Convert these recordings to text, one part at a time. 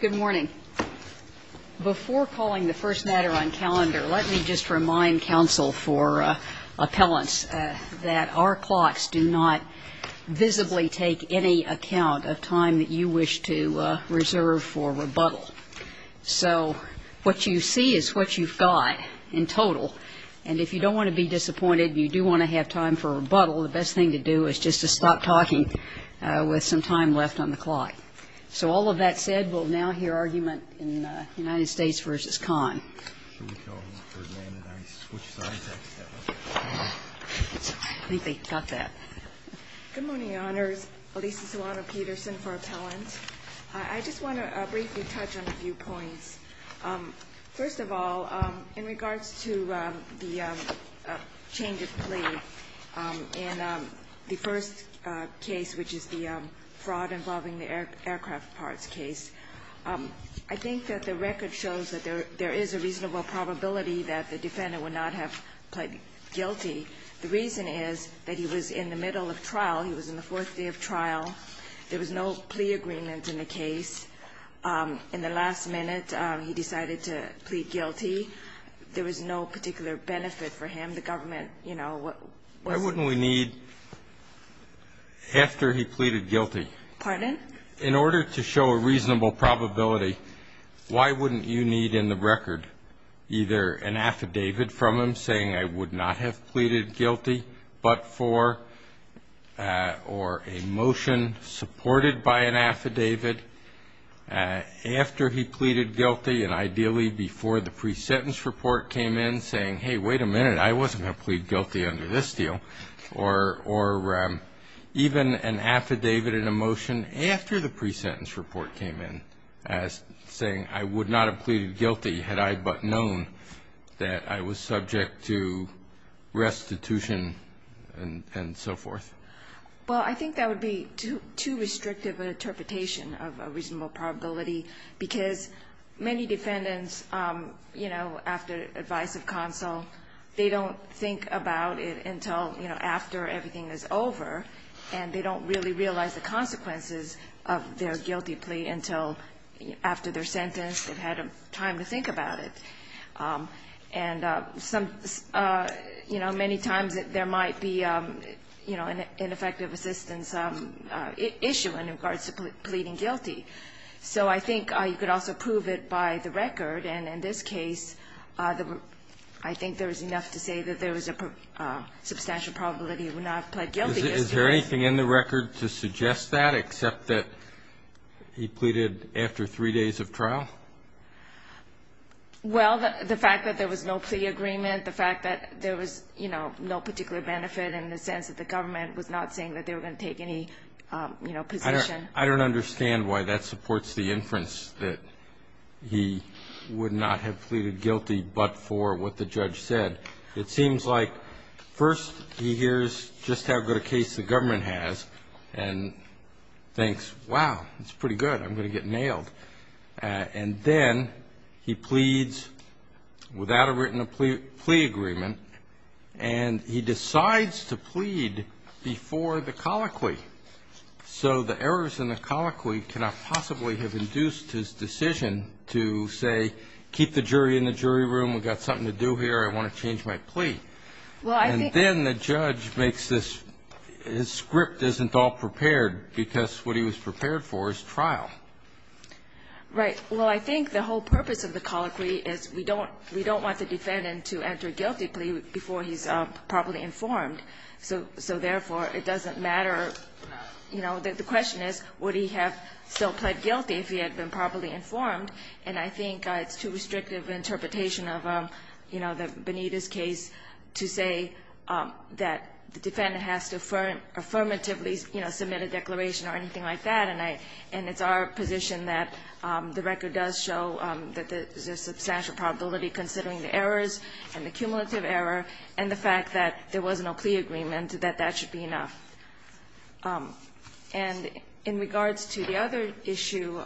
Good morning. Before calling the first matter on calendar, let me just remind counsel for appellants that our clocks do not visibly take any account of time that you wish to reserve for rebuttal. So what you see is what you've got in total, and if you don't want to be disappointed and you do want to have time for rebuttal, the best thing to do is just to stop talking with some time left on the clock. So all of that said, we'll now hear argument in United States v. Khan. I think they got that. Good morning, Your Honors. Alisa Silano-Peterson for appellant. I just want to briefly touch on a few points. First of all, in regards to the change of plea in the first case, which is the fraud involving the aircraft parts case, I think that the record shows that there is a reasonable probability that the defendant would not have pled guilty. The reason is that he was in the middle of trial. He was in the fourth day of trial. There was no plea agreement in the case. In the last minute, he decided to plead guilty. There was no particular benefit for him. The government, you know, what was... Why wouldn't we need, after he pleaded guilty... Pardon? In order to show a reasonable probability, why wouldn't you need in the record either an affidavit from him saying, I would not have pleaded guilty, but for, or a motion supported by an affidavit after he pleaded guilty and ideally before the pre-sentence report came in saying, hey, wait a minute, I wasn't going to plead guilty under this deal, or even an affidavit and a motion after the pre-sentence report came in saying I would not have pleaded guilty had I but known that I was subject to restitution and so forth? Well, I think that would be too restrictive an interpretation of a reasonable probability because many defendants, you know, after advice of counsel, they don't think about it until, you know, after everything is over, and they don't really realize the consequences of their guilty plea until after they're sentenced, they've had time to think about it. And some, you know, many times there might be, you know, an ineffective assistance issue in regards to pleading guilty. So I think you could also prove it by the record, and in this case, I think there is enough to say that there was a substantial probability he would not have pled guilty. Is there anything in the record to suggest that, except that he pleaded after three days of trial? Well, the fact that there was no plea agreement, the fact that there was, you know, no particular benefit in the sense that the government was not saying that they were going to take any, you know, position. I don't understand why that supports the inference that he would not have pleaded guilty but for what the judge said. It seems like first he hears just how good a case the government has and thinks, wow, it's pretty good, I'm going to get nailed. And then he pleads without a written plea agreement, and he decides to plead before the colloquy. So the errors in the colloquy cannot possibly have induced his decision to say, keep the jury in the jury room, we've got something to do here, I want to change my plea. And then the judge makes this, his script isn't all prepared because what he was prepared for is trial. Right. Well, I think the whole purpose of the colloquy is we don't want the defendant to enter a guilty plea before he's properly informed. So therefore, it doesn't matter, you know, the question is, would he have still pled guilty if he had been properly informed? And I think it's too restrictive an interpretation of, you know, the Benitez case to say that the defendant has to affirmatively, you know, submit a declaration or anything like that. And it's our position that the record does show that there's a substantial probability considering the errors and the cumulative error and the fact that there was no plea agreement, that that should be enough. And in regards to the other issue,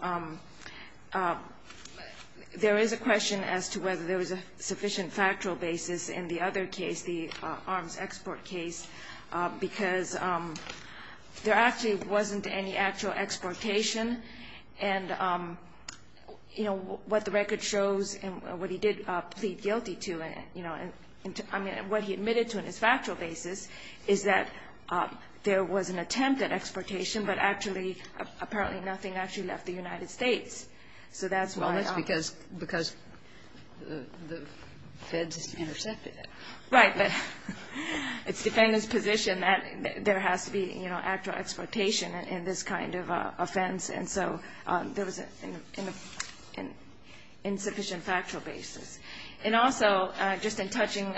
there is a sufficient factual basis in the other case, the arms export case, because there actually wasn't any actual exportation. And, you know, what the record shows and what he did plead guilty to, you know, I mean, what he admitted to in his factual basis is that there was an attempt at exportation, but actually, apparently nothing actually left the United States. So that's why. Well, that's because the feds intercepted it. Right. But it's the defendant's position that there has to be, you know, actual exportation in this kind of offense. And so there was an insufficient factual basis. And also, just in touching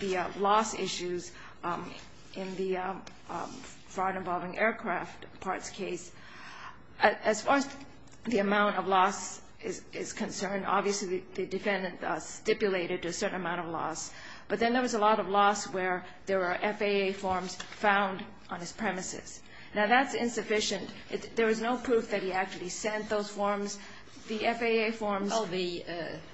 the loss issues in the fraud involving aircraft parts case, as far as the amount of loss is concerned, obviously, the defendant stipulated a certain amount of loss. But then there was a lot of loss where there were FAA forms found on his premises. Now, that's insufficient. There was no proof that he actually sent those forms. The FAA forms ---- Well, the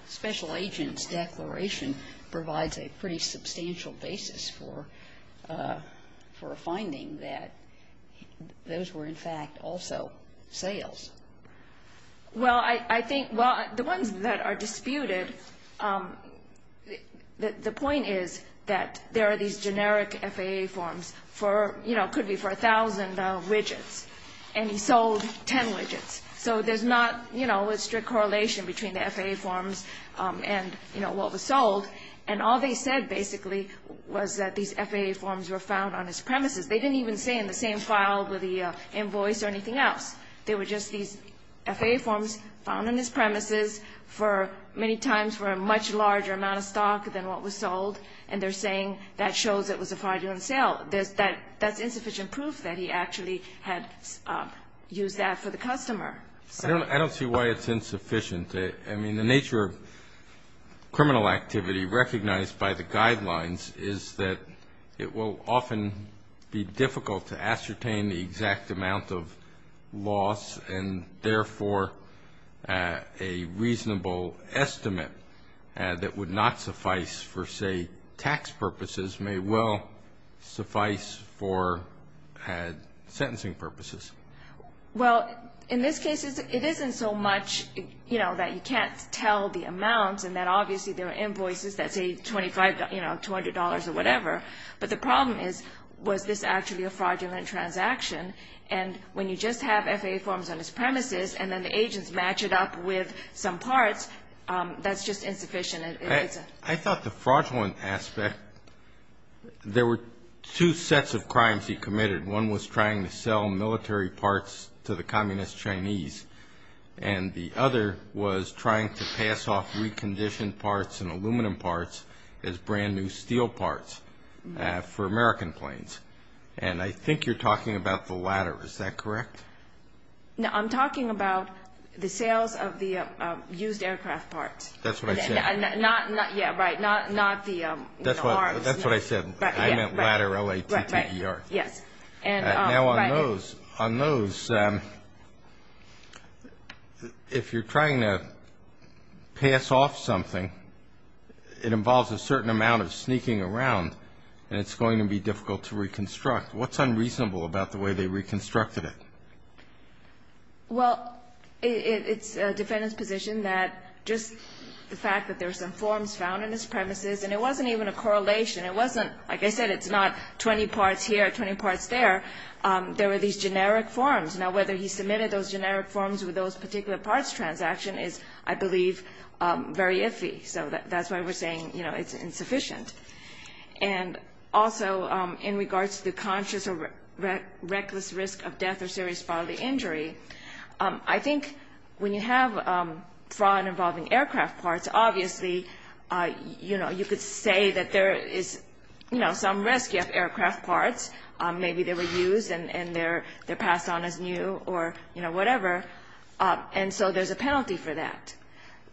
special agent's declaration provides a pretty substantial basis for a finding that those were, in fact, also sales. Well, I think, well, the ones that are disputed, the point is that there are these generic FAA forms for, you know, could be for 1,000 widgets, and he sold 10 widgets. So there's not, you know, a strict correlation between the FAA forms and, you know, what was sold. And all they said, basically, was that these FAA forms were found on his premises. They didn't even say in the same file with the invoice or anything else. They were just these FAA forms found on his premises for many times for a much larger amount of stock than what was sold, and they're saying that shows it was a fraudulent sale. That's insufficient proof that he actually had used that for the customer. I don't see why it's insufficient. I mean, the nature of criminal activity recognized by the guidelines is that it will often be difficult to ascertain the exact amount of loss and, therefore, a reasonable estimate that would not suffice for, say, tax purposes may well suffice for sentencing purposes. Well, in this case, it isn't so much, you know, that you can't tell the amounts and that, obviously, there are invoices that say $25, you know, $200 or whatever. But the problem is, was this actually a fraudulent transaction? And when you just have FAA forms on his premises and then the agents match it up with some parts, that's just insufficient. I thought the fraudulent aspect, there were two sets of crimes he committed. One was trying to sell military parts to the Communist Chinese, and the other was trying to pass off reconditioned parts and aluminum parts as brand new steel parts. For American planes. And I think you're talking about the latter. Is that correct? No, I'm talking about the sales of the used aircraft parts. That's what I said. Not, yeah, right, not the arms. That's what I said. I meant latter, L-A-T-T-E-R. Yes. And now on those, if you're trying to pass off something, it involves a certain amount of sneaking around, and it's going to be difficult to reconstruct. What's unreasonable about the way they reconstructed it? Well, it's a defendant's position that just the fact that there were some forms found on his premises, and it wasn't even a correlation. It wasn't, like I said, it's not 20 parts here, 20 parts there. There were these generic forms. Now, whether he submitted those generic forms with those particular parts transaction is, I believe, very iffy. So that's why we're saying it's insufficient. And also, in regards to the conscious or reckless risk of death or serious bodily injury, I think when you have fraud involving aircraft parts, obviously, you could say that there is some risk. You have aircraft parts. Maybe they were used, and they're passed on as new or whatever. And so there's a penalty for that.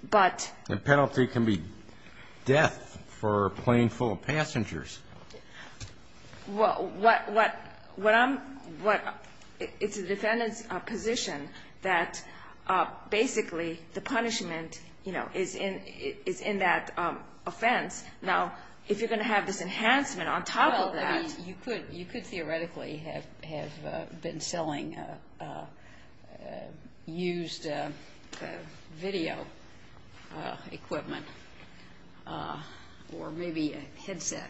But. The penalty can be death for a plane full of passengers. Well, what I'm, what, it's the defendant's position that basically the punishment, you know, is in that offense. Now, if you're going to have this enhancement on top of that. You could theoretically have been selling used video equipment or maybe a headset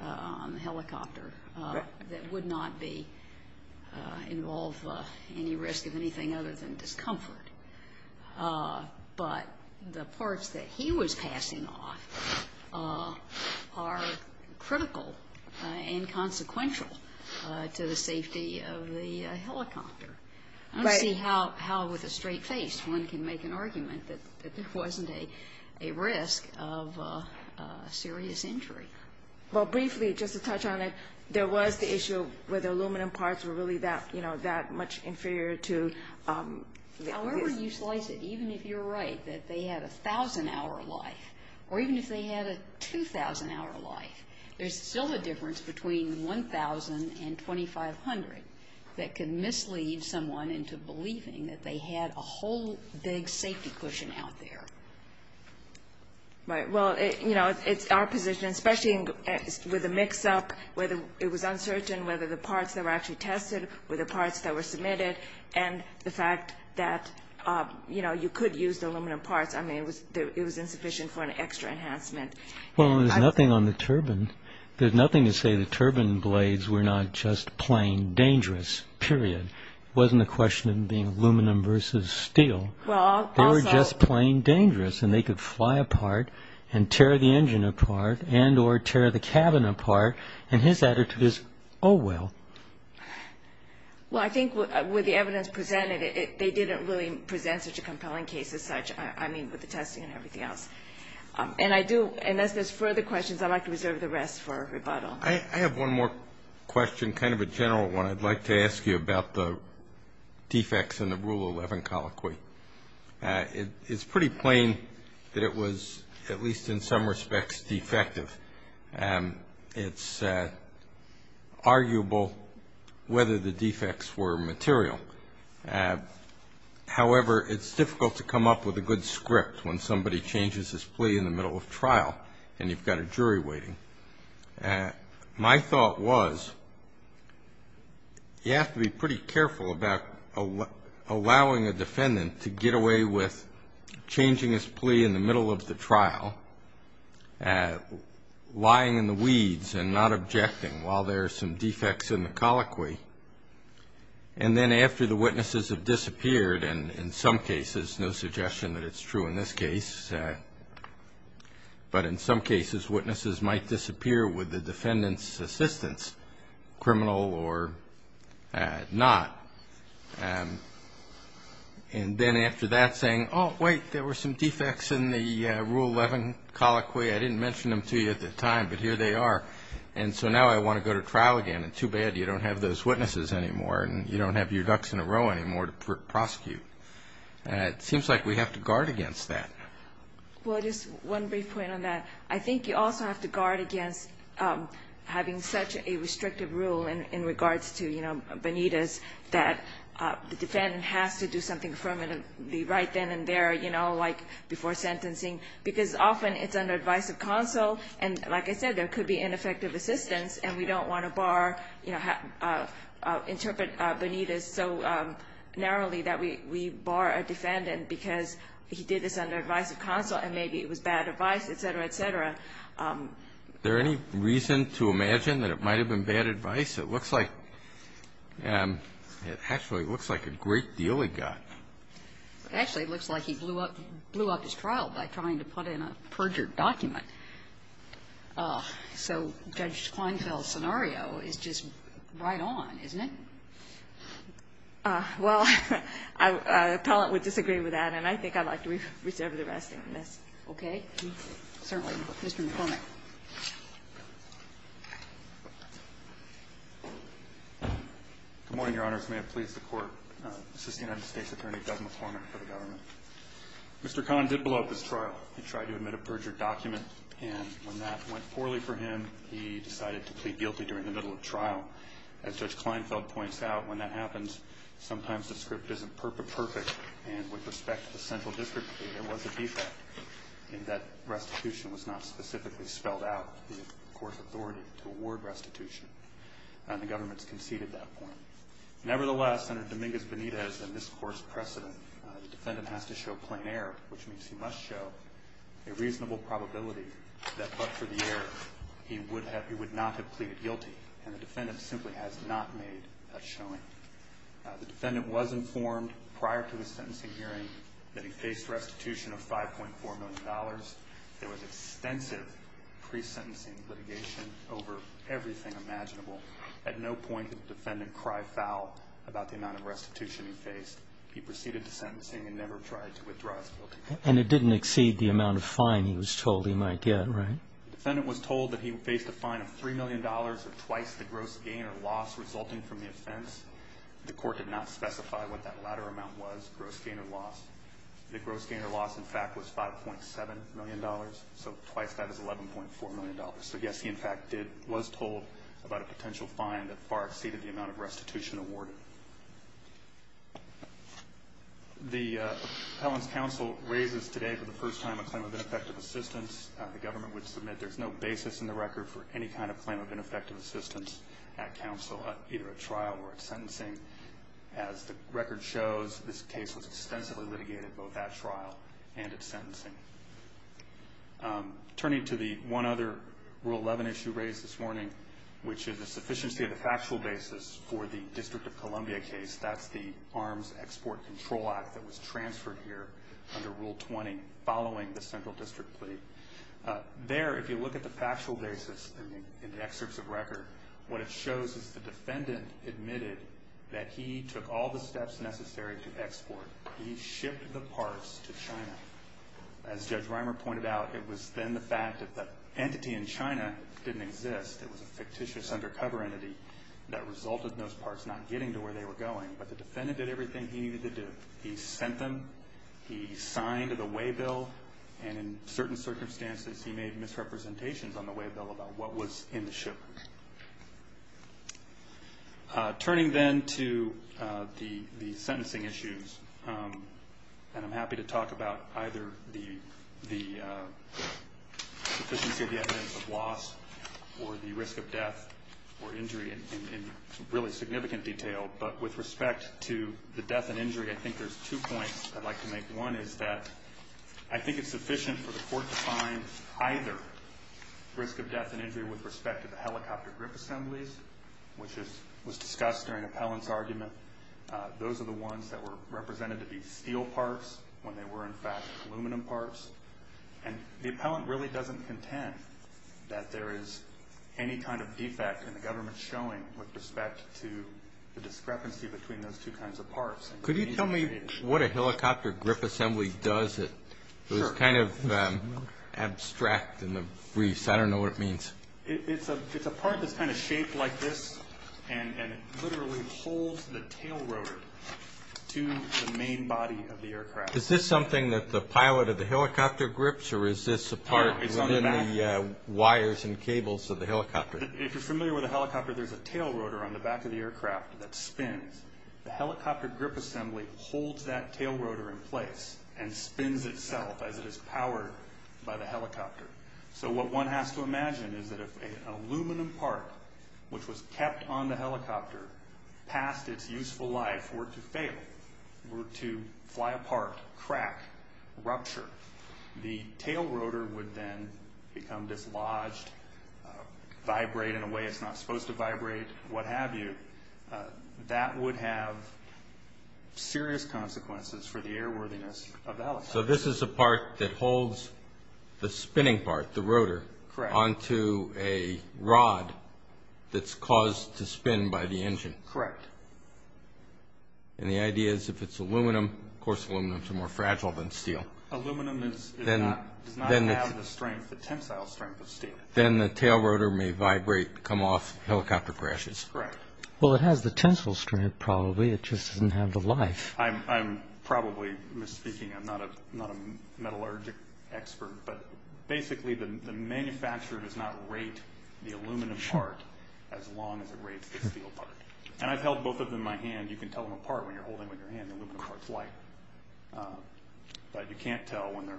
on the helicopter that would not be involve any risk of anything other than discomfort. But the parts that he was passing off are critical and consequential to the safety of the helicopter. I don't see how with a straight face one can make an argument that there wasn't a risk of serious injury. Well, briefly, just to touch on it, there was the issue where the aluminum parts were that, you know, that much inferior to. However you slice it, even if you're right, that they had a thousand hour life or even if they had a 2000 hour life, there's still a difference between 1000 and 2500 that can mislead someone into believing that they had a whole big safety cushion out there. Right. Well, you know, it's our position, especially with a mix up, whether it was uncertain, whether the parts that were actually tested with the parts that were submitted and the fact that, you know, you could use the aluminum parts. I mean, it was insufficient for an extra enhancement. Well, there's nothing on the turbine. There's nothing to say the turbine blades were not just plain dangerous, period. Wasn't a question of being aluminum versus steel. Well, they were just plain dangerous and they could fly apart and tear the engine apart and or tear the cabin apart. And his attitude is, oh, well. Well, I think with the evidence presented, they didn't really present such a compelling case as such. I mean, with the testing and everything else. And I do. And as there's further questions, I'd like to reserve the rest for rebuttal. I have one more question, kind of a general one. I'd like to ask you about the defects in the Rule 11 colloquy. It is pretty plain that it was at least in some respects defective. It's arguable whether the defects were material. However, it's difficult to come up with a good script when somebody changes his plea in the middle of trial and you've got a jury waiting. My thought was you have to be pretty careful about allowing a defendant to get away with lying in the weeds and not objecting while there are some defects in the colloquy. And then after the witnesses have disappeared, and in some cases, no suggestion that it's true in this case, but in some cases, witnesses might disappear with the defendant's assistance, criminal or not. And then after that saying, oh, wait, there were some defects in the Rule 11 colloquy. I didn't mention them to you at the time, but here they are. And so now I want to go to trial again. And too bad you don't have those witnesses anymore and you don't have your ducks in a row anymore to prosecute. And it seems like we have to guard against that. Well, just one brief point on that. I think you also have to guard against having such a restrictive rule in regards to Benitez that the defendant has to do something permanently right then and there, like before sentencing. Because often it's under advice of counsel, and like I said, there could be ineffective assistance, and we don't want to bar, you know, interpret Benitez so narrowly that we bar a defendant because he did this under advice of counsel and maybe it was bad advice, et cetera, et cetera. Is there any reason to imagine that it might have been bad advice? It looks like it actually looks like a great deal he got. Actually, it looks like he blew up his trial by trying to put in a perjured document. So Judge Kleinfeld's scenario is just right on, isn't it? Well, an appellant would disagree with that, and I think I'd like to reserve the rest of this. Okay. Certainly, Mr. McCormick. Good morning, Your Honor. May it please the Court, this is the United States Attorney Doug McCormick for the government. Mr. Kahn did blow up his trial. He tried to admit a perjured document, and when that went poorly for him, he decided to plead guilty during the middle of trial. As Judge Kleinfeld points out, when that happens, sometimes the script isn't perfect, and with respect to the central district, there was a defect, and that restitution was not specifically spelled out. The court's authority to award restitution, and the government's conceded that point. Nevertheless, Senator Dominguez-Benitez and this Court's precedent, the defendant has to show plain error, which means he must show a reasonable probability that but for the error, he would not have pleaded guilty, and the defendant simply has not made that showing. The defendant was informed prior to his sentencing hearing that he faced restitution of $5.4 million. There was extensive pre-sentencing litigation over everything imaginable. At no point did the defendant cry foul about the amount of restitution he faced. He proceeded to sentencing and never tried to withdraw his guilty plea. And it didn't exceed the amount of fine he was told he might get, right? The defendant was told that he faced a fine of $3 million, or twice the gross gain or loss resulting from the offense. The court did not specify what that latter amount was, gross gain or loss. The gross gain or loss, in fact, was $5.7 million, so twice that is $11.4 million. So yes, he, in fact, was told about a potential fine that far exceeded the amount of restitution awarded. The Appellant's counsel raises today for the first time a claim of ineffective assistance. The government would submit there's no basis in the record for any kind of claim of ineffective assistance at counsel, either at trial or at sentencing. As the record shows, this case was extensively litigated both at trial and at sentencing. I'm turning to the one other Rule 11 issue raised this morning, which is the sufficiency of the factual basis for the District of Columbia case. That's the Arms Export Control Act that was transferred here under Rule 20 following the Central District plea. There, if you look at the factual basis in the excerpts of record, what it shows is the he shipped the parts to China. As Judge Reimer pointed out, it was then the fact that the entity in China didn't exist. It was a fictitious undercover entity that resulted in those parts not getting to where they were going. But the defendant did everything he needed to do. He sent them, he signed the waybill, and in certain circumstances, he made misrepresentations on the waybill about what was in the shipment. Turning then to the sentencing issues, and I'm happy to talk about either the sufficiency of the evidence of loss or the risk of death or injury in really significant detail. But with respect to the death and injury, I think there's two points I'd like to make. One is that I think it's sufficient for the court to find either risk of death and injury with respect to the helicopter grip assemblies, which was discussed during appellant's argument. Those are the ones that were represented to be steel parts when they were in fact aluminum parts. And the appellant really doesn't contend that there is any kind of defect in the government showing with respect to the discrepancy between those two kinds of parts. Could you tell me what a helicopter grip assembly does? It was kind of abstract in the briefs. I don't know what it means. It's a part that's kind of shaped like this, and it literally holds the tail rotor to the main body of the aircraft. Is this something that the pilot of the helicopter grips, or is this a part within the wires and cables of the helicopter? If you're familiar with a helicopter, there's a tail rotor on the back of the aircraft that spins. The helicopter grip assembly holds that tail rotor in place and spins itself as it is powered by the helicopter. So what one has to imagine is that if an aluminum part, which was kept on the helicopter past its useful life, were to fail, were to fly apart, crack, rupture, the tail rotor would then become dislodged, vibrate in a way it's not supposed to vibrate, what have you. That would have serious consequences for the airworthiness of the helicopter. So this is a part that holds the spinning part, the rotor, onto a rod that's caused to spin by the engine. Correct. And the idea is if it's aluminum, of course aluminum is more fragile than steel. Aluminum does not have the strength, the tensile strength of steel. Then the tail rotor may vibrate, come off, helicopter crashes. Correct. Well, it has the tensile strength probably, it just doesn't have the life. I'm probably misspeaking. I'm not a metallurgic expert, but basically the manufacturer does not rate the aluminum part as long as it rates the steel part. And I've held both of them in my hand. You can tell them apart when you're holding them in your hand. The aluminum part's light. But you can't tell when they're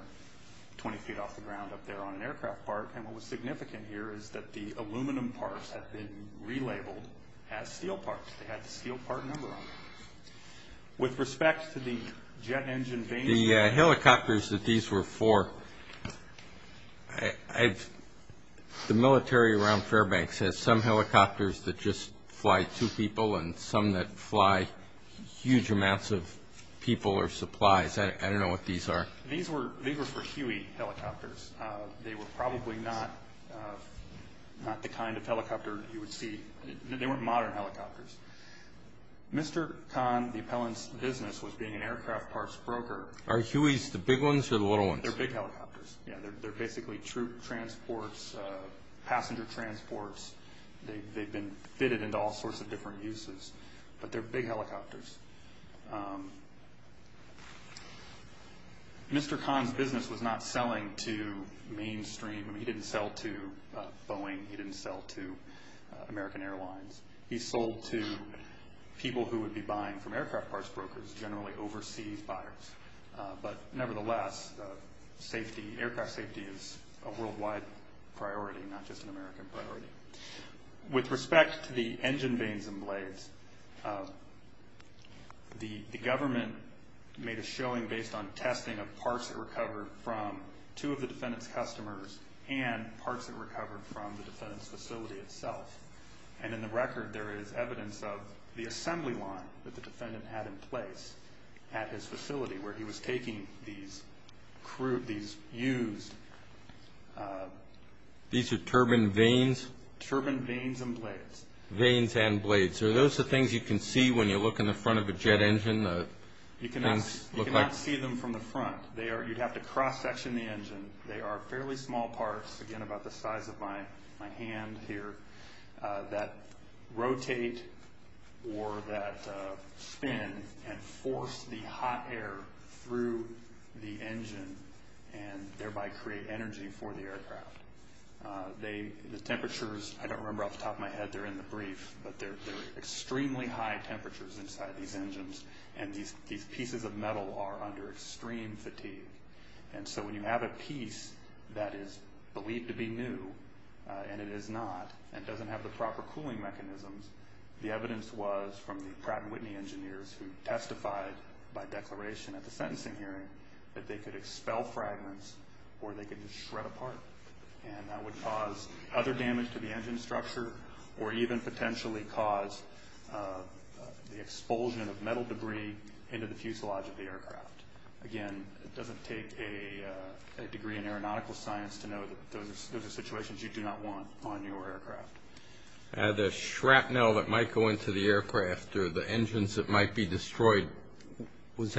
20 feet off the ground up there on an aircraft part. And what was significant here is that the aluminum parts have been relabeled as steel parts. They had the steel part number on them. With respect to the jet engine vanes. The helicopters that these were for, the military around Fairbanks has some helicopters that just fly two people and some that fly huge amounts of people or supplies. I don't know what these are. These were for Huey helicopters. They were probably not the kind of helicopter you would see. They weren't modern helicopters. Mr. Khan, the appellant's business, was being an aircraft parts broker. Are Hueys the big ones or the little ones? They're big helicopters. They're basically troop transports, passenger transports. They've been fitted into all sorts of different uses. But they're big helicopters. Mr. Khan's business was not selling to mainstream. He didn't sell to Boeing. He didn't sell to American Airlines. He sold to people who would be buying from aircraft parts brokers, generally overseas buyers. But nevertheless, aircraft safety is a worldwide priority, not just an American priority. With respect to the engine vanes and blades, the government made a showing based on testing of parts that recovered from two of the defendant's customers and parts that recovered from the defendant's facility itself. And in the record, there is evidence of the assembly line that the defendant had in place at his facility, where he was taking these used... These are turbine vanes? Turbine vanes and blades. Vanes and blades. Are those the things you can see when you look in the front of a jet engine? You cannot see them from the front. You'd have to cross-section the engine. They are fairly small parts, again, about the size of my hand here. That rotate or that spin and force the hot air through the engine and thereby create energy for the aircraft. The temperatures, I don't remember off the top of my head, they're in the brief, but they're extremely high temperatures inside these engines. And these pieces of metal are under extreme fatigue. And so when you have a piece that is believed to be new, and it is not, and doesn't have the proper cooling mechanisms, the evidence was from the Pratt & Whitney engineers who testified by declaration at the sentencing hearing that they could expel fragments or they could just shred apart. And that would cause other damage to the engine structure or even potentially cause the expulsion of metal debris into the fuselage of the aircraft. Again, it doesn't take a degree in aeronautical science to know that those are situations you do not want on your aircraft. The shrapnel that might go into the aircraft or the engines that might be destroyed, which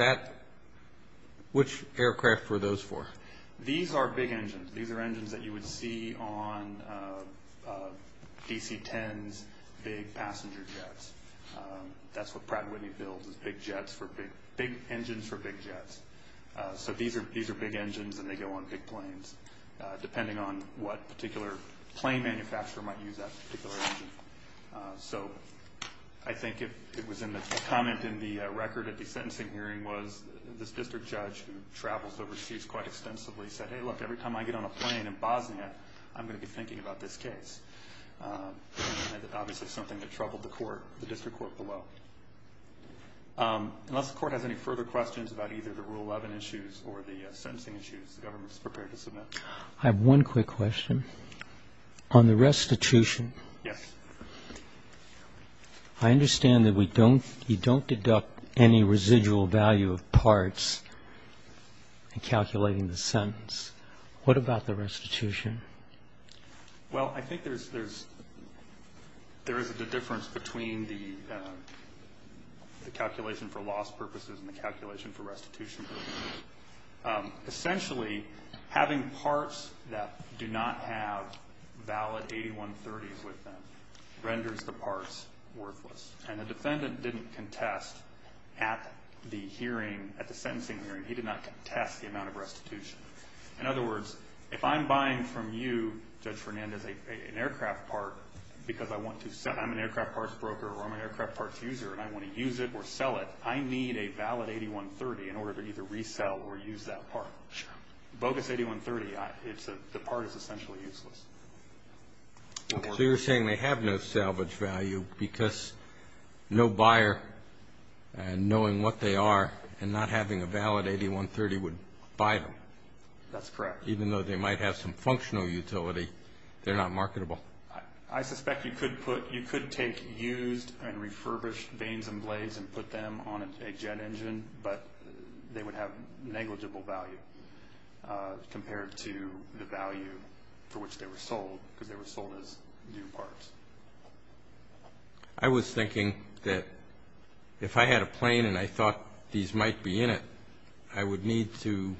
aircraft were those for? These are big engines. These are engines that you would see on DC-10s, big passenger jets. That's what Pratt & Whitney builds is big engines for big jets. So these are big engines and they go on big planes, depending on what particular plane the manufacturer might use that particular engine for. So I think it was in the comment in the record at the sentencing hearing was this district judge who travels overseas quite extensively said, hey, look, every time I get on a plane in Bosnia, I'm going to be thinking about this case. Obviously something that troubled the court, the district court below. Unless the court has any further questions about either the Rule 11 issues or the sentencing issues, the government is prepared to submit. I have one quick question. On the restitution, I understand that you don't deduct any residual value of parts in calculating the sentence. What about the restitution? Well, I think there is a difference between the calculation for loss purposes and the calculation for restitution. Essentially, having parts that do not have valid 8130s with them renders the parts worthless. And the defendant didn't contest at the hearing, at the sentencing hearing, he did not contest the amount of restitution. In other words, if I'm buying from you, Judge Fernandez, an aircraft part because I'm an aircraft parts broker or I'm an aircraft parts user and I want to use it or sell it, I need a valid 8130 in order to either resell or use that part. Bogus 8130, the part is essentially useless. So you're saying they have no salvage value because no buyer knowing what they are and not having a valid 8130 would buy them? That's correct. Even though they might have some functional utility, they're not marketable? I suspect you could take used and refurbished vanes and blades and put them on a jet engine, but they would have negligible value compared to the value for which they were sold because they were sold as new parts. I was thinking that if I had a plane and I thought these might be in it, I would need to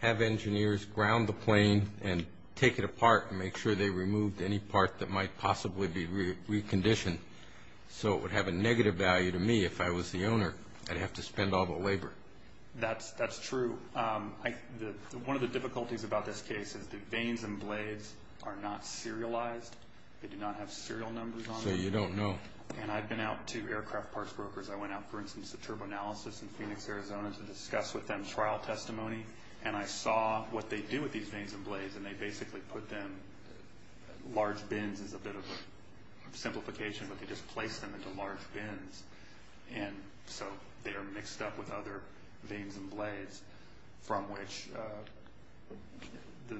have engineers ground the plane and take it apart and make sure they removed any part that might possibly be reconditioned. So it would have a negative value to me if I was the owner. I'd have to spend all the labor. That's true. One of the difficulties about this case is the vanes and blades are not serialized. They do not have serial numbers on them. So you don't know. And I've been out to aircraft parts brokers. I went out, for instance, to Turbo Analysis in Phoenix, Arizona to discuss with them trial testimony and I saw what they do with these vanes and blades and they basically put them Large bins is a bit of a simplification, but they just place them into large bins. And so they are mixed up with other vanes and blades from which the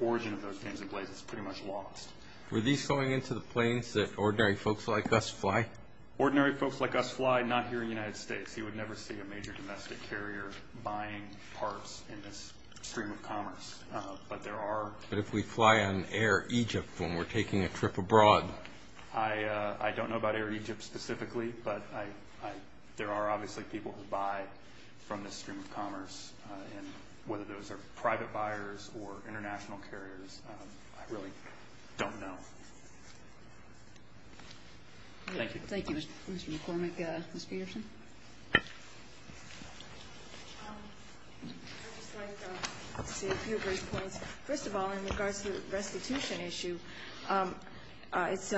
origin of those vanes and blades is pretty much lost. Were these going into the planes that ordinary folks like us fly? Ordinary folks like us fly, not here in the United States. You would never see a major domestic carrier buying parts in this stream of commerce. But there are. But if we fly on Air Egypt when we're taking a trip abroad. I don't know about Air Egypt specifically, but there are obviously people who buy from this stream of commerce and whether those are private buyers or international carriers, I really don't know. Thank you. Thank you, Mr. McCormick. Ms. Peterson. I'd just like to say a few brief points. First of all, in regards to the restitution issue, it's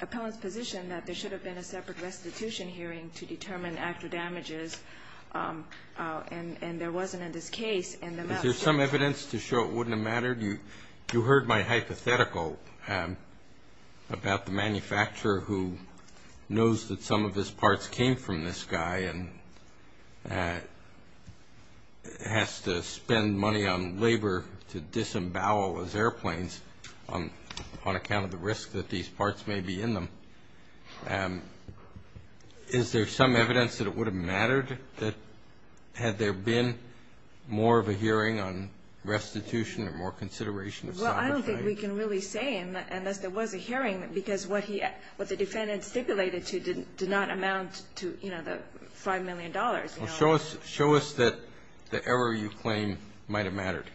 appellant's position that there should have been a separate restitution hearing to determine actual damages and there wasn't in this case. Is there some evidence to show it wouldn't have mattered? You heard my hypothetical about the manufacturer who knows that some of his parts came from this guy and has to spend money on labor to disembowel his airplanes on account of the risk that these parts may be in them. Is there some evidence that it would have mattered that had there been more of a hearing on restitution or more consideration? Well, I don't think we can really say unless there was a hearing, because what the defendant stipulated to did not amount to the $5 million. Show us that the error you claim might have mattered.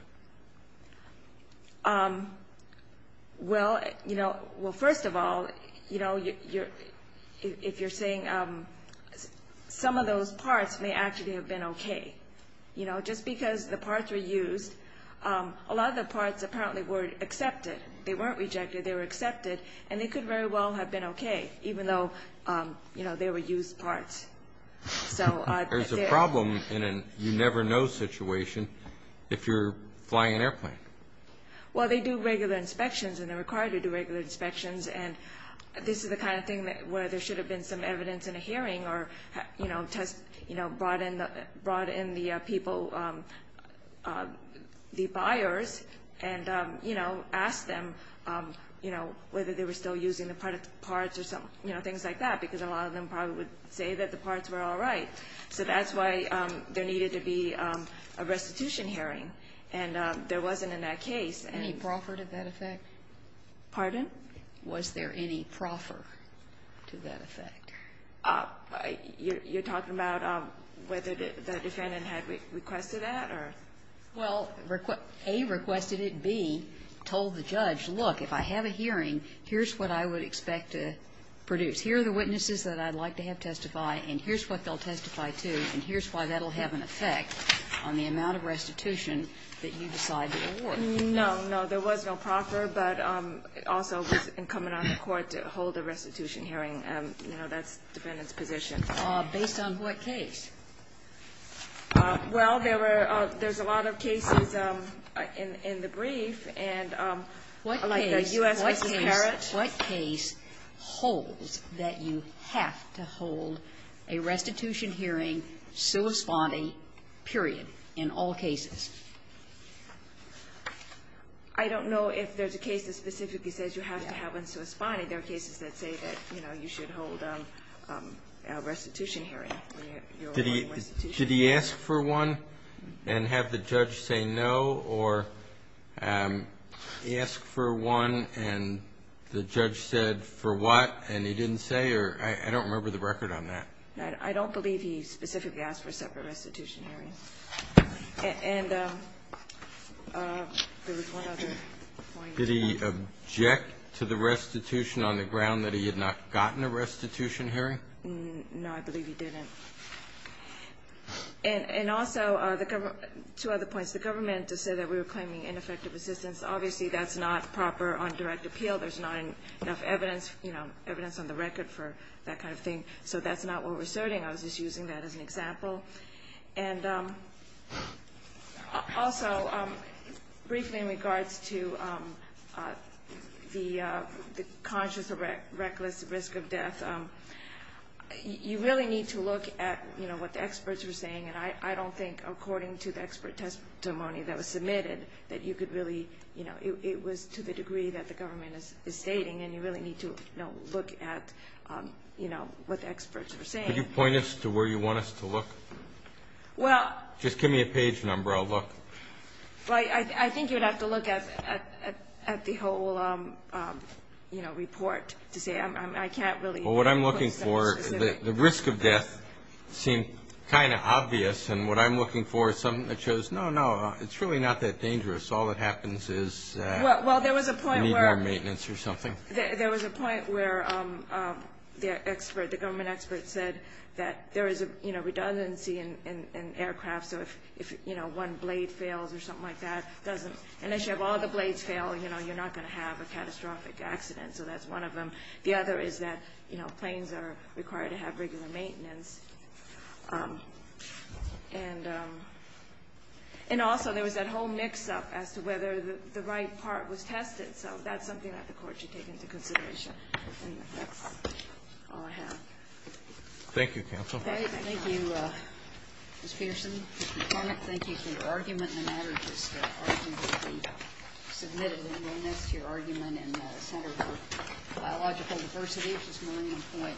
Well, first of all, if you're saying some of those parts may actually have been okay. Just because the parts were used, a lot of the parts apparently were accepted. They weren't rejected. They were accepted and they could very well have been okay, even though they were used parts. There's a problem in a you never know situation if you're flying an airplane. Well, they do regular inspections and they're required to do regular inspections. And this is the kind of thing where there should have been some evidence in a hearing or, you know, test, you know, brought in the people, the buyers, and, you know, asked them, you know, whether they were still using the parts or some, you know, things like that, because a lot of them probably would say that the parts were all right. So that's why there needed to be a restitution hearing, and there wasn't in that case. Any proffer to that effect? Pardon? Was there any proffer to that effect? You're talking about whether the defendant had requested that or? Well, A, requested it. B, told the judge, look, if I have a hearing, here's what I would expect to produce. Here are the witnesses that I'd like to have testify, and here's what they'll testify to, and here's why that'll have an effect on the amount of restitution that you decide to award. No, no. There was no proffer, but it also was incumbent on the court to hold a restitution hearing. You know, that's the defendant's position. Based on what case? Well, there were – there's a lot of cases in the brief, and like the U.S. v. Parrott. What case holds that you have to hold a restitution hearing, sui sponding, period, in all cases? I don't know if there's a case that specifically says you have to have one sui sponding. There are cases that say that, you know, you should hold a restitution hearing. Did he – should he ask for one and have the judge say no, or ask for one and the judge said for what and he didn't say, or – I don't remember the record on that. I don't believe he specifically asked for a separate restitution hearing. And there was one other point. Did he object to the restitution on the ground that he had not gotten a restitution hearing? No, I believe he didn't. And also, the government – two other points. The government just said that we were claiming ineffective assistance. Obviously, that's not proper on direct appeal. There's not enough evidence, you know, evidence on the record for that kind of thing. So that's not what we're asserting. I was just using that as an example. And also, briefly in regards to the conscious or reckless risk of death, you really need to look at, you know, what the experts were saying. And I don't think, according to the expert testimony that was submitted, that you could really – you know, it was to the degree that the government is stating. And you really need to, you know, look at, you know, what the experts were saying. Could you point us to where you want us to look? Well – Just give me a page number. I'll look. Well, I think you'd have to look at the whole, you know, report to see – I can't really put something specific. Well, what I'm looking for – the risk of death seemed kind of obvious. And what I'm looking for is something that shows, no, no, it's really not that dangerous. All that happens is that you need more maintenance or something. There was a point where the expert – the government expert said that there is, you know, redundancy in aircraft. So if, you know, one blade fails or something like that, it doesn't – unless you have all the blades fail, you know, you're not going to have a catastrophic accident. So that's one of them. The other is that, you know, planes are required to have regular maintenance. And also, there was that whole mix-up as to whether the right part was tested. So that's something that the court should take into consideration. And that's all I have. Thank you, counsel. All right. Thank you, Ms. Peterson. Thank you for your comment. Thank you for your argument in the matter. This argument will be submitted and will nest your argument in the Center for Biological Diversity, which is Millennium Point Development.